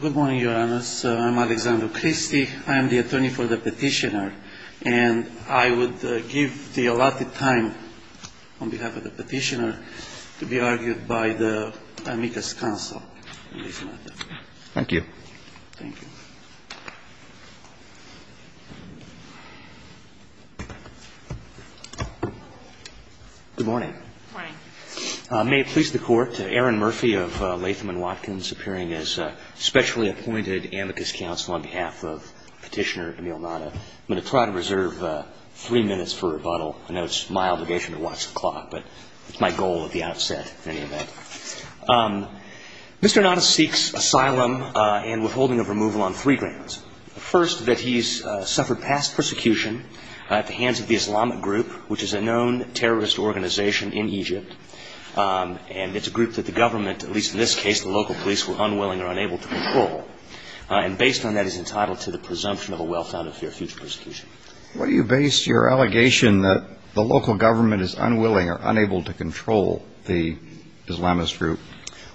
Good morning, Your Honors. I'm Alexander Christy. I am the attorney for the petitioner, and I would give the allotted time on behalf of the petitioner to be argued by the amicus counsel in this matter. Thank you. Thank you. Good morning. Good morning. May it please the Court, Aaron Murphy of Latham & Watkins, appearing as a specially appointed amicus counsel on behalf of petitioner Emil Natta. I'm going to try to reserve three minutes for rebuttal. I know it's my obligation to watch the clock, but it's my goal at the outset in any event. Mr. Natta seeks asylum and withholding of removal on three grounds. First, that he's suffered past persecution at the hands of the Islamic group, which is a known terrorist organization in Egypt. And it's a group that the government, at least in this case the local police, were unwilling or unable to control. And based on that, he's entitled to the presumption of a well-founded fear of future persecution. Why do you base your allegation that the local government is unwilling or unable to control the Islamist group?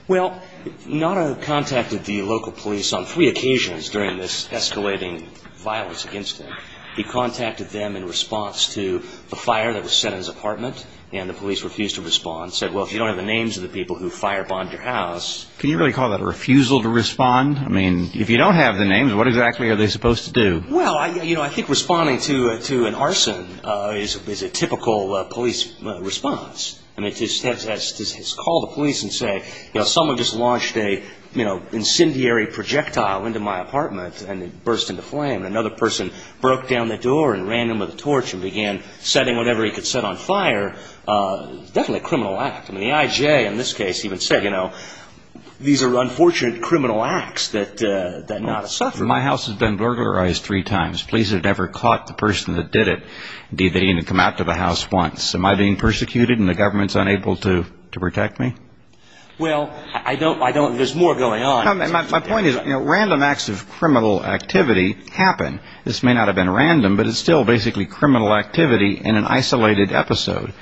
Well, Natta contacted the local police on three occasions during this escalating violence against him. He contacted them in response to the fire that was set in his apartment, and the police refused to respond. Said, well, if you don't have the names of the people who fire-bombed your house... Can you really call that a refusal to respond? I mean, if you don't have the names, what exactly are they supposed to do? Well, I think responding to an arson is a typical police response. I mean, to call the police and say, you know, someone just launched an incendiary projectile into my apartment and it burst into flame, and another person broke down the door and ran in with a torch and began setting whatever he could set on fire, definitely a criminal act. I mean, the IJ in this case even said, you know, these are unfortunate criminal acts that Natta suffered. My house has been burglarized three times. Police have never caught the person that did it. Indeed, they didn't even come out to the house once. Am I being persecuted and the government's unable to protect me? Well, I don't... there's more going on. My point is, you know, random acts of criminal activity happen. This may not have been random, but it's still basically criminal activity in an isolated episode.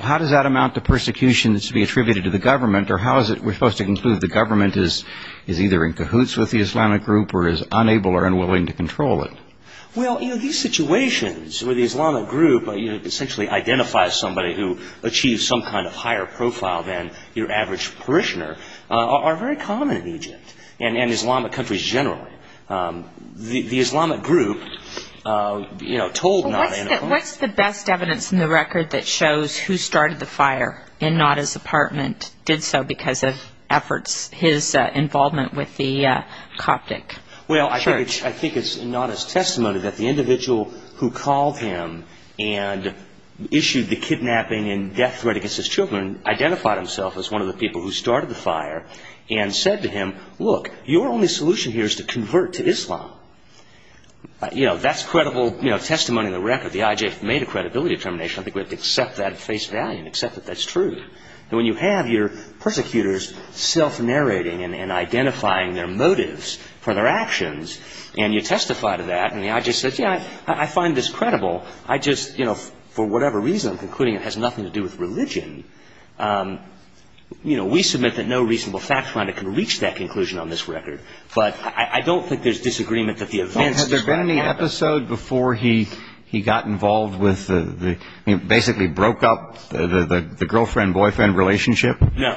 How does that amount to persecution that's to be attributed to the government, or how is it we're supposed to conclude the government is either in cahoots with the Islamic group or is unable or unwilling to control it? Well, you know, these situations where the Islamic group essentially identifies somebody who achieves some kind of higher profile than your average parishioner are very common in Egypt and in Islamic countries generally. The Islamic group, you know, told Natta... What's the best evidence in the record that shows who started the fire in Natta's apartment, did so because of efforts, his involvement with the Coptic church? Well, I think it's Natta's testimony that the individual who called him and issued the kidnapping and death threat against his children identified himself as one of the people who started the fire and said to him, look, your only solution here is to convert to Islam. You know, that's credible testimony in the record. The IJ made a credibility determination. I think we have to accept that at face value and accept that that's true. And when you have your persecutors self-narrating and identifying their motives for their actions and you testify to that and the IJ says, yeah, I find this credible, I just, you know, for whatever reason, including it has nothing to do with religion, you know, we submit that no reasonable fact finder can reach that conclusion on this record. But I don't think there's disagreement that the events... Has there been any episode before he got involved with the, basically broke up the girlfriend-boyfriend relationship? No.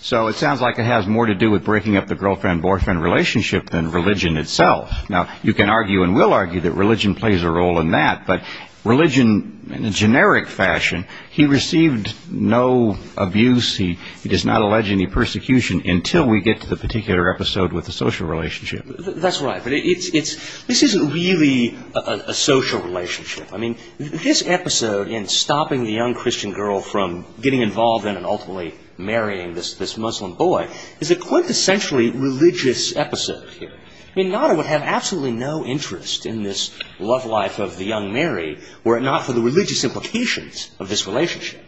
So it sounds like it has more to do with breaking up the girlfriend-boyfriend relationship than religion itself. Now, you can argue and will argue that religion plays a role in that, but religion in a generic fashion, he received no abuse, he does not allege any persecution until we get to the particular episode with the social relationship. That's right, but this isn't really a social relationship. I mean, this episode in stopping the young Christian girl from getting involved in and ultimately marrying this Muslim boy is a quintessentially religious episode here. I mean, Nader would have absolutely no interest in this love life of the young Mary were it not for the religious implications of this relationship.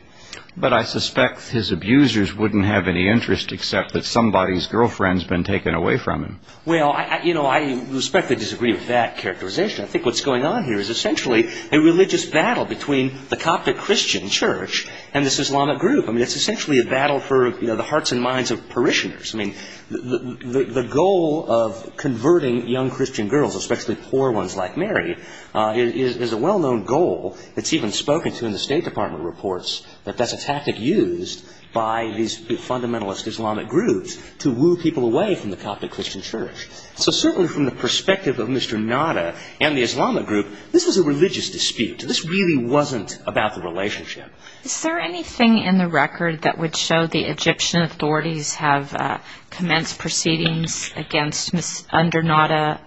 But I suspect his abusers wouldn't have any interest except that somebody's girlfriend's been taken away from him. Well, you know, I respectfully disagree with that characterization. I think what's going on here is essentially a religious battle between the Coptic Christian Church and this Islamic group. I mean, it's essentially a battle for the hearts and minds of parishioners. I mean, the goal of converting young Christian girls, especially poor ones like Mary, is a well-known goal. It's even spoken to in the State Department reports that that's a tactic used by these fundamentalist Islamic groups to woo people away from the Coptic Christian Church. So certainly from the perspective of Mr. Nader and the Islamic group, this was a religious dispute. This really wasn't about the relationship. Is there anything in the record that would show the Egyptian authorities have commenced proceedings against Nader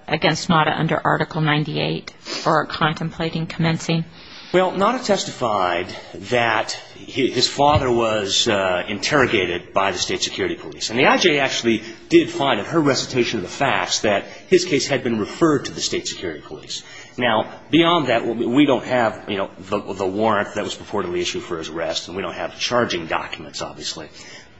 under Article 98 for contemplating commencing? Well, Nader testified that his father was interrogated by the State Security Police. And the IJ actually did find in her recitation of the facts that his case had been referred to the State Security Police. Now, beyond that, we don't have the warrant that was purportedly issued for his arrest, and we don't have the charging documents, obviously.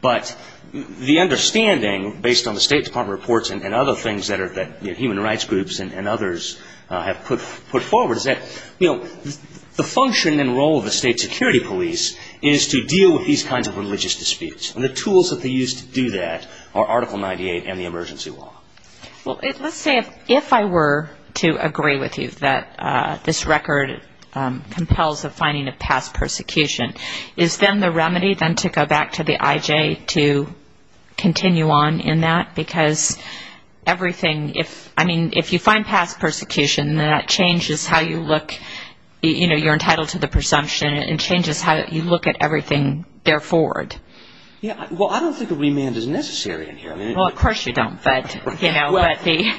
But the understanding, based on the State Department reports and other things that human rights groups and others have put forward, is that the function and role of the State Security Police is to deal with these kinds of religious disputes. And the tools that they use to do that are Article 98 and the emergency law. Well, let's say if I were to agree with you that this record compels the finding of past persecution, is then the remedy then to go back to the IJ to continue on in that? Because everything, I mean, if you find past persecution, then that changes how you look. You know, you're entitled to the presumption. It changes how you look at everything therefore. Well, I don't think a remand is necessary in here. Well, of course you don't, but, you know. The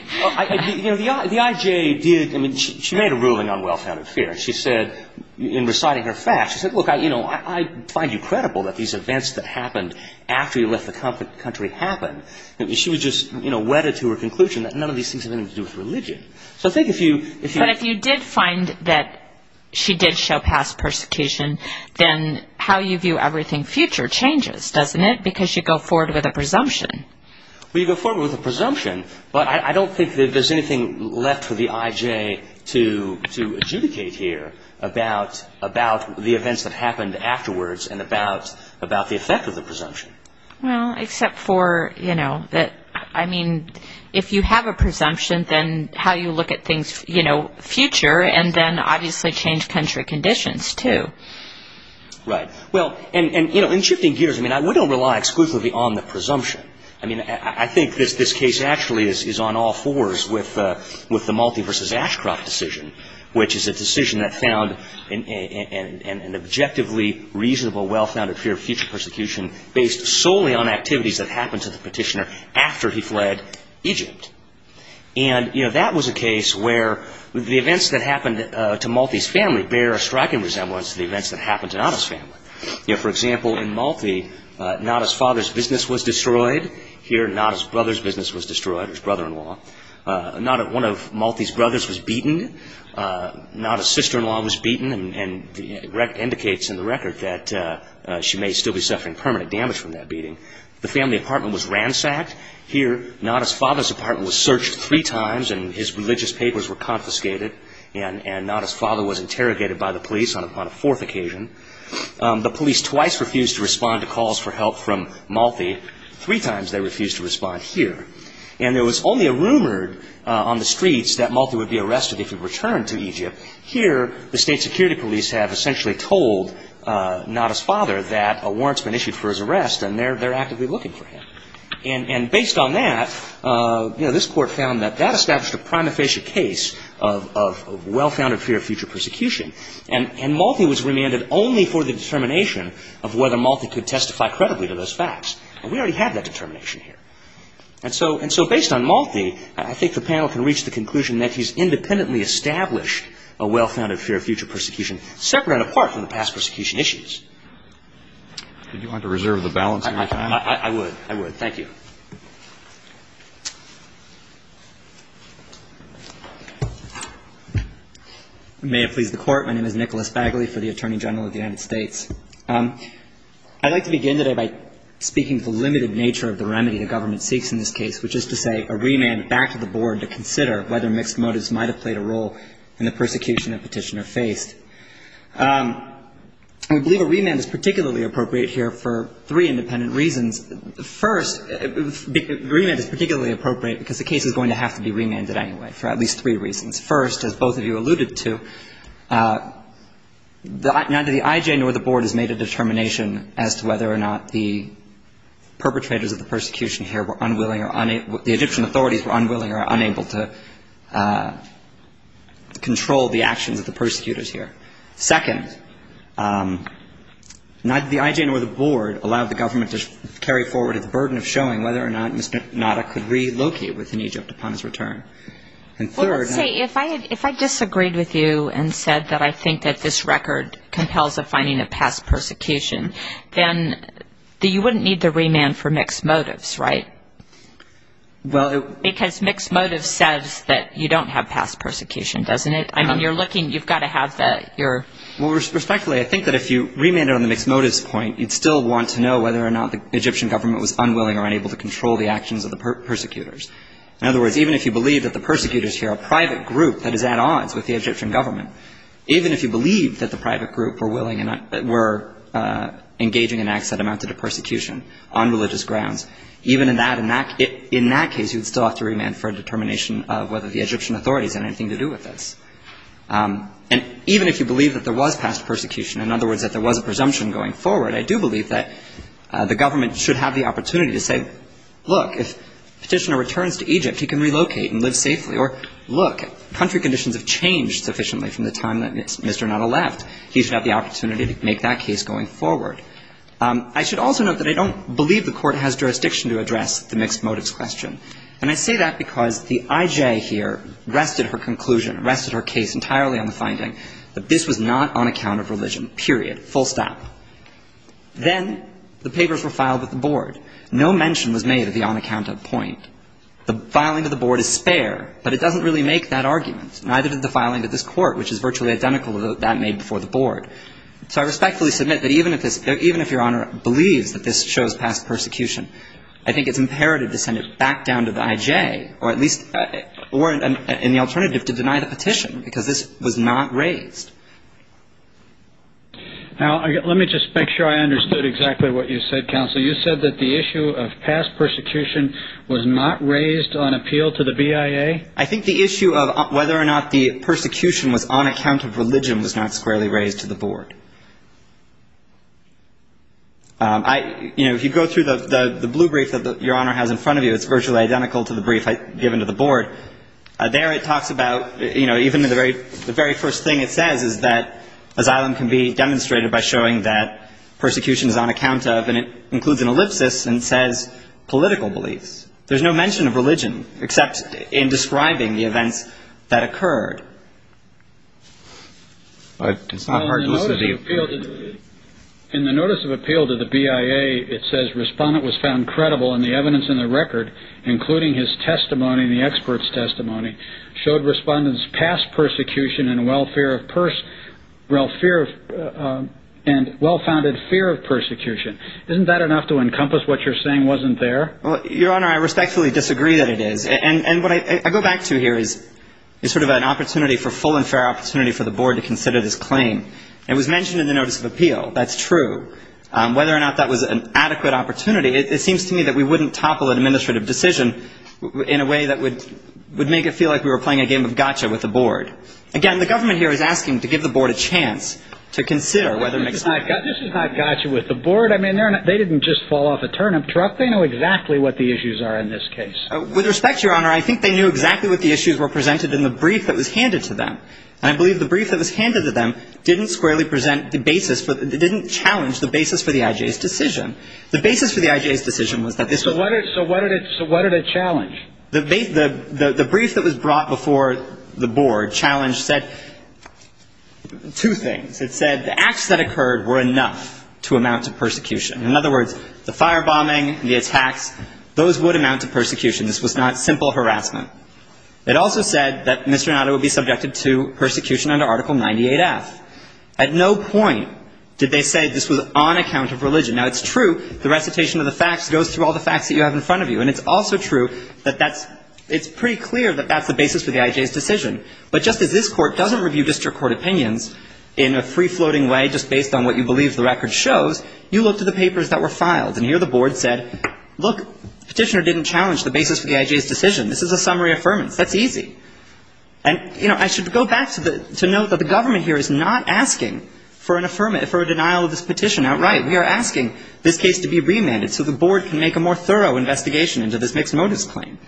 IJ did, I mean, she made a ruling on well-founded fear. She said, in reciting her facts, she said, look, I find you credible that these events that happened after you left the country happened. She was just, you know, wedded to her conclusion that none of these things have anything to do with religion. So I think if you... But if you did find that she did show past persecution, then how you view everything future changes, doesn't it? Because you go forward with a presumption. Well, you go forward with a presumption, but I don't think that there's anything left for the IJ to adjudicate here about the events that happened afterwards and about the effect of the presumption. Well, except for, you know, that, I mean, if you have a presumption, then how you look at things, you know, future, and then obviously change country conditions, too. Right. Well, and, you know, in shifting gears, I mean, we don't rely exclusively on the presumption. I mean, I think this case actually is on all fours with the Malti v. Ashcroft decision, which is a decision that found an objectively reasonable, well-founded fear of future persecution based solely on activities that happened to the petitioner after he fled Egypt. And, you know, that was a case where the events that happened to Malti's family bear a striking resemblance to the events that happened to Nada's family. You know, for example, in Malti, Nada's father's business was destroyed. Here, Nada's brother's business was destroyed, his brother-in-law. Nada, one of Malti's brothers, was beaten. Nada's sister-in-law was beaten, and it indicates in the record that she may still be suffering permanent damage from that beating. The family apartment was ransacked. Here, Nada's father's apartment was searched three times, and his religious papers were confiscated, and Nada's father was interrogated by the police upon a fourth occasion. The police twice refused to respond to calls for help from Malti. Three times they refused to respond here. And there was only a rumor on the streets that Malti would be arrested if he returned to Egypt. Here, the state security police have essentially told Nada's father that a warrant's been issued for his arrest, and they're actively looking for him. And based on that, you know, this Court found that that established a prima facie case of well-founded fear of future persecution. And Malti was remanded only for the determination of whether Malti could testify credibly to those facts. And we already have that determination here. And so based on Malti, I think the panel can reach the conclusion that he's independently established a well-founded fear of future persecution, separate and apart from the past persecution issues. Did you want to reserve the balance of your time? I would. I would. Thank you. May it please the Court. My name is Nicholas Bagley for the Attorney General of the United States. I'd like to begin today by speaking to the limited nature of the remedy the government seeks in this case, which is to say a remand back to the Board to consider whether mixed motives might have played a role in the persecution the Petitioner faced. I believe a remand is particularly appropriate here for three independent reasons. First, remand is particularly appropriate because the case is going to have to be remanded anyway, for at least three reasons. First, as both of you alluded to, neither the IJ nor the Board has made a determination as to whether or not the perpetrators of the persecution here were unwilling or unable to ‑‑ the Egyptian authorities were unwilling or unable to control the actions of the persecutors here. Second, neither the IJ nor the Board allowed the government to carry forward a burden of showing whether or not Mr. Nada could relocate within Egypt upon his return. And third ‑‑ Well, let's say if I disagreed with you and said that I think that this record compels a finding of past persecution, then you wouldn't need the remand for mixed motives, right? Well, it ‑‑ Because mixed motives says that you don't have past persecution, doesn't it? I mean, you're looking ‑‑ you've got to have the ‑‑ your ‑‑ Well, respectfully, I think that if you remanded on the mixed motives point, you'd still want to know whether or not the Egyptian government was unwilling or unable to control the actions of the persecutors. In other words, even if you believe that the persecutors here are a private group that is at odds with the Egyptian government, even if you believe that the private group were engaging in acts that amounted to persecution on religious grounds, even in that case, you'd still have to remand for a determination of whether the Egyptian authorities had anything to do with this. And even if you believe that there was past persecution, in other words, that there was a presumption going forward, I do believe that the government should have the opportunity to say, Look, if Petitioner returns to Egypt, he can relocate and live safely. Or, look, country conditions have changed sufficiently from the time that Mr. Natta left. He should have the opportunity to make that case going forward. I should also note that I don't believe the court has jurisdiction to address the mixed motives question. And I say that because the IJ here rested her conclusion, rested her case entirely on the finding that this was not on account of religion, period, full stop. Then the papers were filed with the board. No mention was made of the on account of point. The filing to the board is spare, but it doesn't really make that argument, neither did the filing to this court, which is virtually identical to that made before the board. So I respectfully submit that even if this – even if Your Honor believes that this shows past persecution, I think it's imperative to send it back down to the IJ or at least – or in the alternative, to deny the petition, because this was not raised. Now, let me just make sure I understood exactly what you said, Counsel. So you said that the issue of past persecution was not raised on appeal to the BIA? I think the issue of whether or not the persecution was on account of religion was not squarely raised to the board. I – you know, if you go through the blue brief that Your Honor has in front of you, it's virtually identical to the brief I've given to the board. There it talks about – you know, even the very first thing it says is that asylum can be demonstrated by showing that persecution is on account of, and it includes an ellipsis and says political beliefs. There's no mention of religion, except in describing the events that occurred. But it's not hard to listen to you. In the notice of appeal to the BIA, it says respondent was found credible, and the evidence in the record, including his testimony and the expert's testimony, showed respondents past persecution and well-founded fear of persecution. Isn't that enough to encompass what you're saying wasn't there? Well, Your Honor, I respectfully disagree that it is. And what I go back to here is sort of an opportunity for full and fair opportunity for the board to consider this claim. It was mentioned in the notice of appeal. That's true. Whether or not that was an adequate opportunity, it seems to me that we wouldn't topple an administrative decision in a way that would make it feel like we were playing a game of gotcha with the board. Again, the government here is asking to give the board a chance to consider whether it makes sense. This is not gotcha with the board. I mean, they didn't just fall off a turnip truck. They know exactly what the issues are in this case. With respect, Your Honor, I think they knew exactly what the issues were presented in the brief that was handed to them. And I believe the brief that was handed to them didn't squarely present the basis – didn't challenge the basis for the IJ's decision. The basis for the IJ's decision was that this was – So what did it – so what did it challenge? The brief that was brought before the board challenged – said two things. It said the acts that occurred were enough to amount to persecution. In other words, the firebombing, the attacks, those would amount to persecution. This was not simple harassment. It also said that Mr. Nonato would be subjected to persecution under Article 98F. At no point did they say this was on account of religion. Now, it's true the recitation of the facts goes through all the facts that you have in front of you. And it's also true that that's – it's pretty clear that that's the basis for the IJ's decision. But just as this Court doesn't review district court opinions in a free-floating way, just based on what you believe the record shows, you look to the papers that were filed. And here the board said, look, Petitioner didn't challenge the basis for the IJ's decision. This is a summary affirmance. That's easy. And, you know, I should go back to the – to note that the government here is not asking for an – for a denial of this petition outright. We are asking this case to be remanded so the board can make a more thorough investigation into this mixed-motives claim.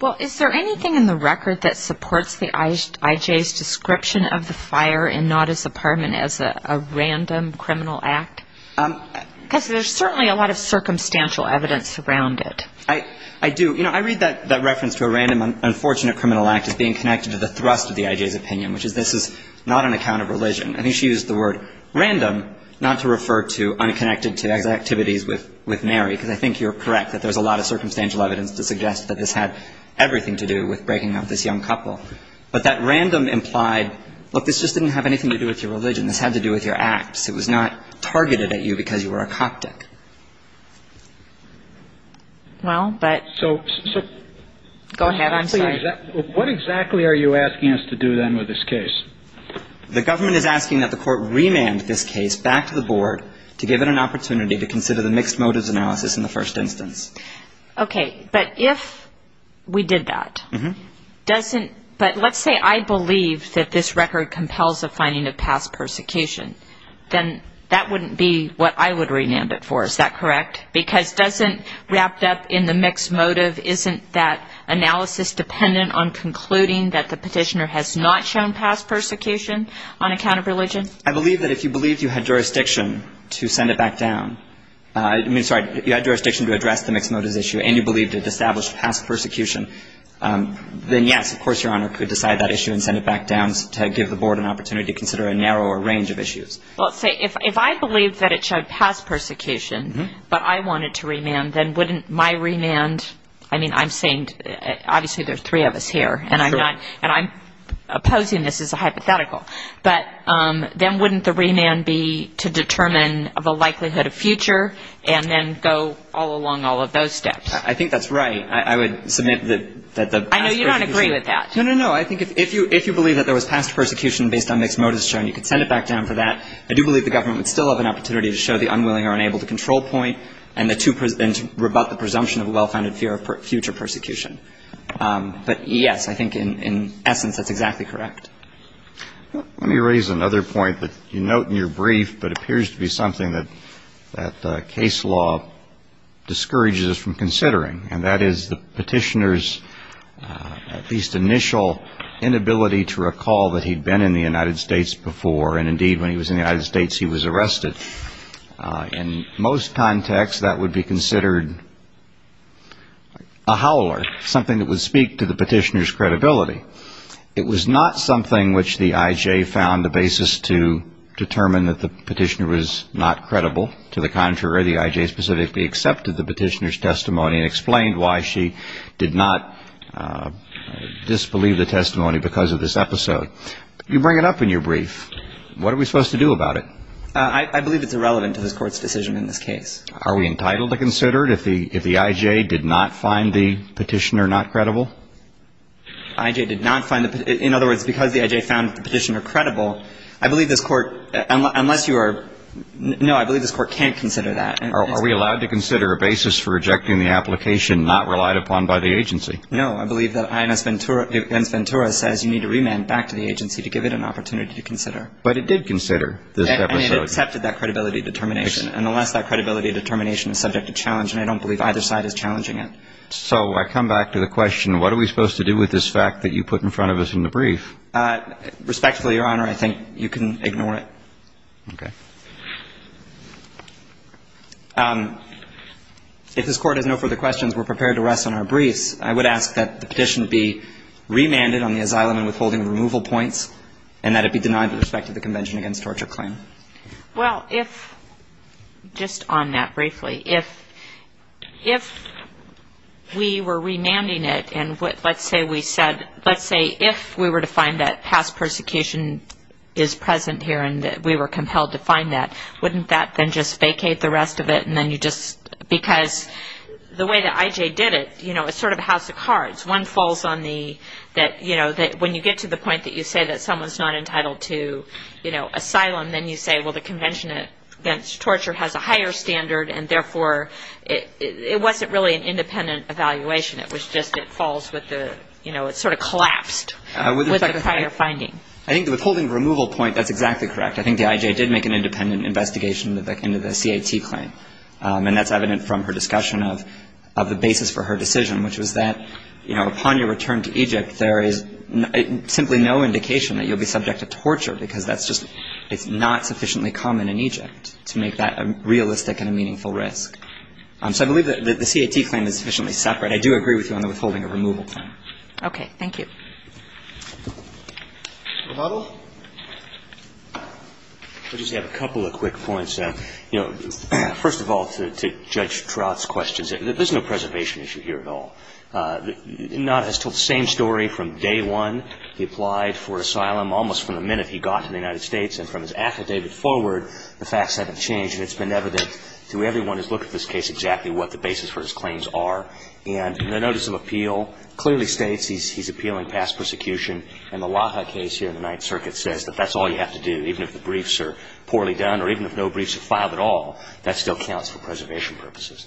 Well, is there anything in the record that supports the IJ's description of the fire and not as a – as a random criminal act? Because there's certainly a lot of circumstantial evidence around it. I do. You know, I read that reference to a random, unfortunate criminal act as being connected to the thrust of the IJ's opinion, which is this is not on account of religion. I think she used the word random not to refer to unconnected to activities with Mary, because I think you're correct that there's a lot of circumstantial evidence to suggest that this had everything to do with breaking up this young couple. But that random implied, look, this just didn't have anything to do with your religion. This had to do with your acts. It was not targeted at you because you were a Coptic. Well, but – So – Go ahead. I'm sorry. What exactly are you asking us to do then with this case? The government is asking that the Court remand this case back to the Board to give it an opportunity to consider the mixed motives analysis in the first instance. Okay. But if we did that, doesn't – but let's say I believe that this record compels a finding of past persecution. Then that wouldn't be what I would remand it for. Is that correct? Because doesn't – wrapped up in the mixed motive, isn't that analysis dependent on concluding that the petitioner has not shown past persecution on account of religion? I believe that if you believed you had jurisdiction to send it back down – I mean, sorry, you had jurisdiction to address the mixed motives issue and you believed it established past persecution, then yes, of course, Your Honor, could decide that issue and send it back down to give the Board an opportunity to consider a narrower range of issues. Well, let's say if I believed that it showed past persecution, but I wanted to remand, then wouldn't my remand – I mean, I'm saying – obviously there's three of us here, and I'm not – and I'm opposing this as a hypothetical. But then wouldn't the remand be to determine the likelihood of future and then go all along all of those steps? I think that's right. I would submit that the past persecution – I know you don't agree with that. No, no, no. I think if you believe that there was past persecution based on mixed motives shown, you could send it back down for that. I do believe the government would still have an opportunity to show the unwilling or unable-to-control point and to rebut the presumption of a well-founded fear of future persecution. But, yes, I think in essence that's exactly correct. Let me raise another point that you note in your brief but appears to be something that case law discourages us from considering, and that is the petitioner's at least initial inability to recall that he'd been in the United States before. And, indeed, when he was in the United States, he was arrested. In most contexts, that would be considered a howler, something that would speak to the petitioner's credibility. It was not something which the IJ found a basis to determine that the petitioner was not credible. To the contrary, the IJ specifically accepted the petitioner's testimony and explained why she did not disbelieve the testimony because of this episode. You bring it up in your brief. What are we supposed to do about it? I believe it's irrelevant to this Court's decision in this case. Are we entitled to consider it if the IJ did not find the petitioner not credible? The IJ did not find the – in other words, because the IJ found the petitioner credible, I believe this Court, unless you are – no, I believe this Court can't consider that. Are we allowed to consider a basis for rejecting the application not relied upon by the agency? No. I believe that Inez Ventura says you need to remand back to the agency to give it an opportunity to consider. But it did consider this episode. And it accepted that credibility determination. And unless that credibility determination is subject to challenge, and I don't believe either side is challenging it. So I come back to the question, what are we supposed to do with this fact that you put in front of us in the brief? Respectfully, Your Honor, I think you can ignore it. Okay. If this Court has no further questions, we're prepared to rest on our briefs. I would ask that the petition be remanded on the asylum and withholding removal points, and that it be denied with respect to the Convention Against Torture claim. Well, if – just on that briefly. If we were remanding it, and let's say we said – let's say if we were to find that past persecution is present here and that we were compelled to find that, wouldn't that then just vacate the rest of it and then you just – because the way that I.J. did it, you know, it's sort of a house of cards. One falls on the – that, you know, when you get to the point that you say that someone's not entitled to, you know, asylum, then you say, well, the Convention Against Torture has a higher standard, and therefore it wasn't really an independent evaluation. It was just it falls with the – you know, it sort of collapsed with the prior finding. I think the withholding removal point, that's exactly correct. I think the I.J. did make an independent investigation into the C.A.T. claim, and that's evident from her discussion of the basis for her decision, which was that, you know, upon your return to Egypt there is simply no indication that you'll be subject to torture because that's just – it's not sufficiently common in Egypt to make that a realistic and a meaningful risk. So I believe that the C.A.T. claim is sufficiently separate. I do agree with you on the withholding of removal claim. Okay. Thank you. Mr. Butler? I just have a couple of quick points. You know, first of all, to Judge Trott's questions, there's no preservation issue here at all. Nod has told the same story from day one. He applied for asylum almost from the minute he got to the United States. And from his affidavit forward, the facts haven't changed. And it's been evident to everyone who's looked at this case exactly what the basis for his claims are. And the notice of appeal clearly states he's appealing past persecution. And the Laha case here in the Ninth Circuit says that that's all you have to do. Even if the briefs are poorly done or even if no briefs are filed at all, that still counts for preservation purposes.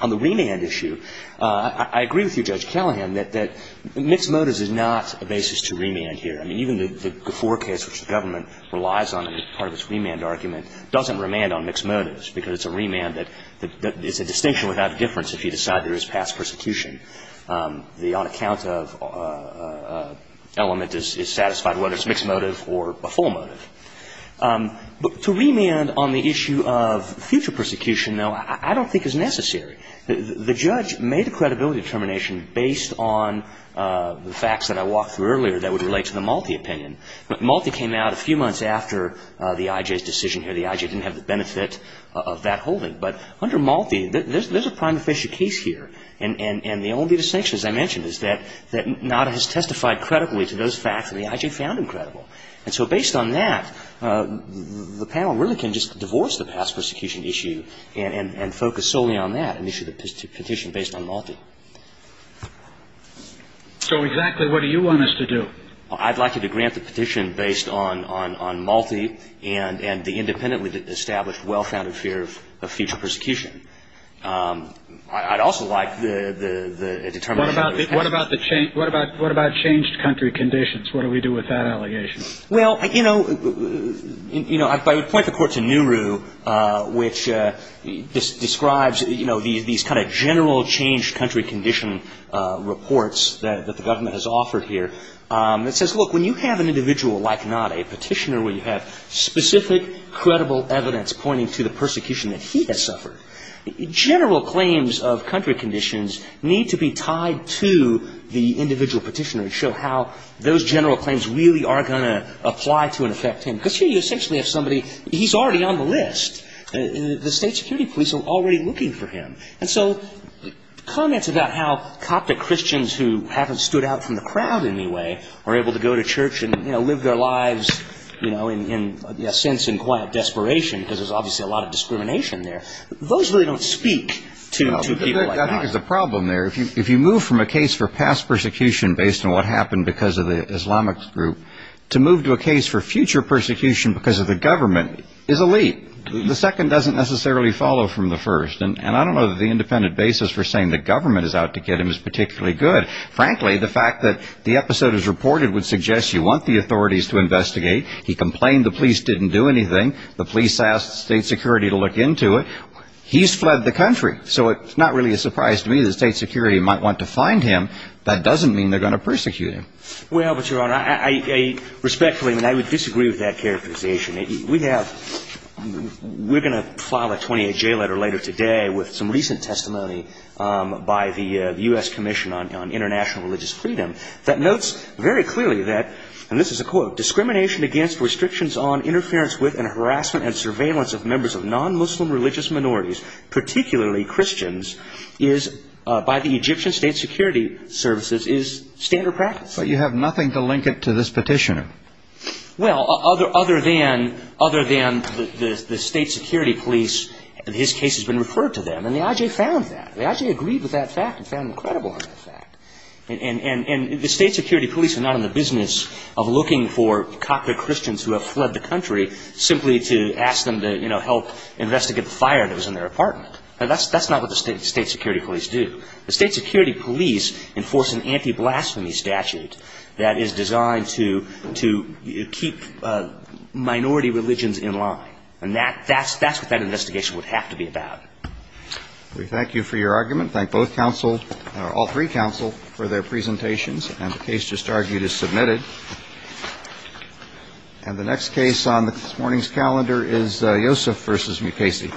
On the remand issue, I agree with you, Judge Callahan, that mixed motives is not a basis to remand here. I mean, even the Gafford case, which the government relies on as part of its remand argument, doesn't remand on mixed motives because it's a remand that is a distinction without difference if you decide there is past persecution. The on-account of element is satisfied whether it's a mixed motive or a full motive. But to remand on the issue of future persecution, though, I don't think is necessary. The judge made a credibility determination based on the facts that I walked through earlier that would relate to the Malte opinion. But Malte came out a few months after the I.J.'s decision here. The I.J. didn't have the benefit of that holding. But under Malte, there's a prime official case here. And the only distinction, as I mentioned, is that NADA has testified credibly to those facts and the I.J. found them credible. And so based on that, the panel really can just divorce the past persecution issue and focus solely on that and issue the petition based on Malte. So exactly what do you want us to do? I'd like you to grant the petition based on Malte and the independently established well-founded fear of future persecution. I'd also like the determination. What about changed country conditions? What do we do with that allegation? Well, you know, I point the court to Nehru, which describes, you know, these kind of general changed country condition reports that the government has offered here. It says, look, when you have an individual like NADA, a petitioner, where you have specific credible evidence pointing to the persecution that he has suffered, general claims of country conditions need to be tied to the individual petitioner to show how those general claims really are going to apply to and affect him. Because here you essentially have somebody, he's already on the list. The state security police are already looking for him. And so comments about how Coptic Christians who haven't stood out from the crowd in any way are able to go to church and, you know, live their lives, you know, in a sense in quiet desperation because there's obviously a lot of discrimination there, those really don't speak to people like that. I think there's a problem there. If you move from a case for past persecution based on what happened because of the Islamic group to move to a case for future persecution because of the government is a leap. The second doesn't necessarily follow from the first. And I don't know that the independent basis for saying the government is out to get him is particularly good. Frankly, the fact that the episode is reported would suggest you want the authorities to investigate. He complained the police didn't do anything. The police asked state security to look into it. He's fled the country. So it's not really a surprise to me that state security might want to find him. That doesn't mean they're going to persecute him. Well, but, Your Honor, I respectfully and I would disagree with that characterization. We have we're going to file a 28-J letter later today with some recent testimony by the U.S. Commission on International Religious Freedom that notes very clearly that, and this is a quote, discrimination against restrictions on interference with and harassment and surveillance of members of non-Muslim religious minorities, particularly Christians, by the Egyptian state security services is standard practice. But you have nothing to link it to this petitioner. Well, other than the state security police, his case has been referred to them. And the I.J. found that. The I.J. agreed with that fact and found him credible in that fact. And the state security police are not in the business of looking for Catholic Christians who have fled the country simply to ask them to, you know, help investigate the fire that was in their apartment. That's not what the state security police do. The state security police enforce an anti-blasphemy statute that is designed to keep minority religions in line. And that's what that investigation would have to be about. We thank you for your argument. Thank both counsel, all three counsel, for their presentations. And the case just argued is submitted. And the next case on this morning's calendar is Yosef v. Mukasey.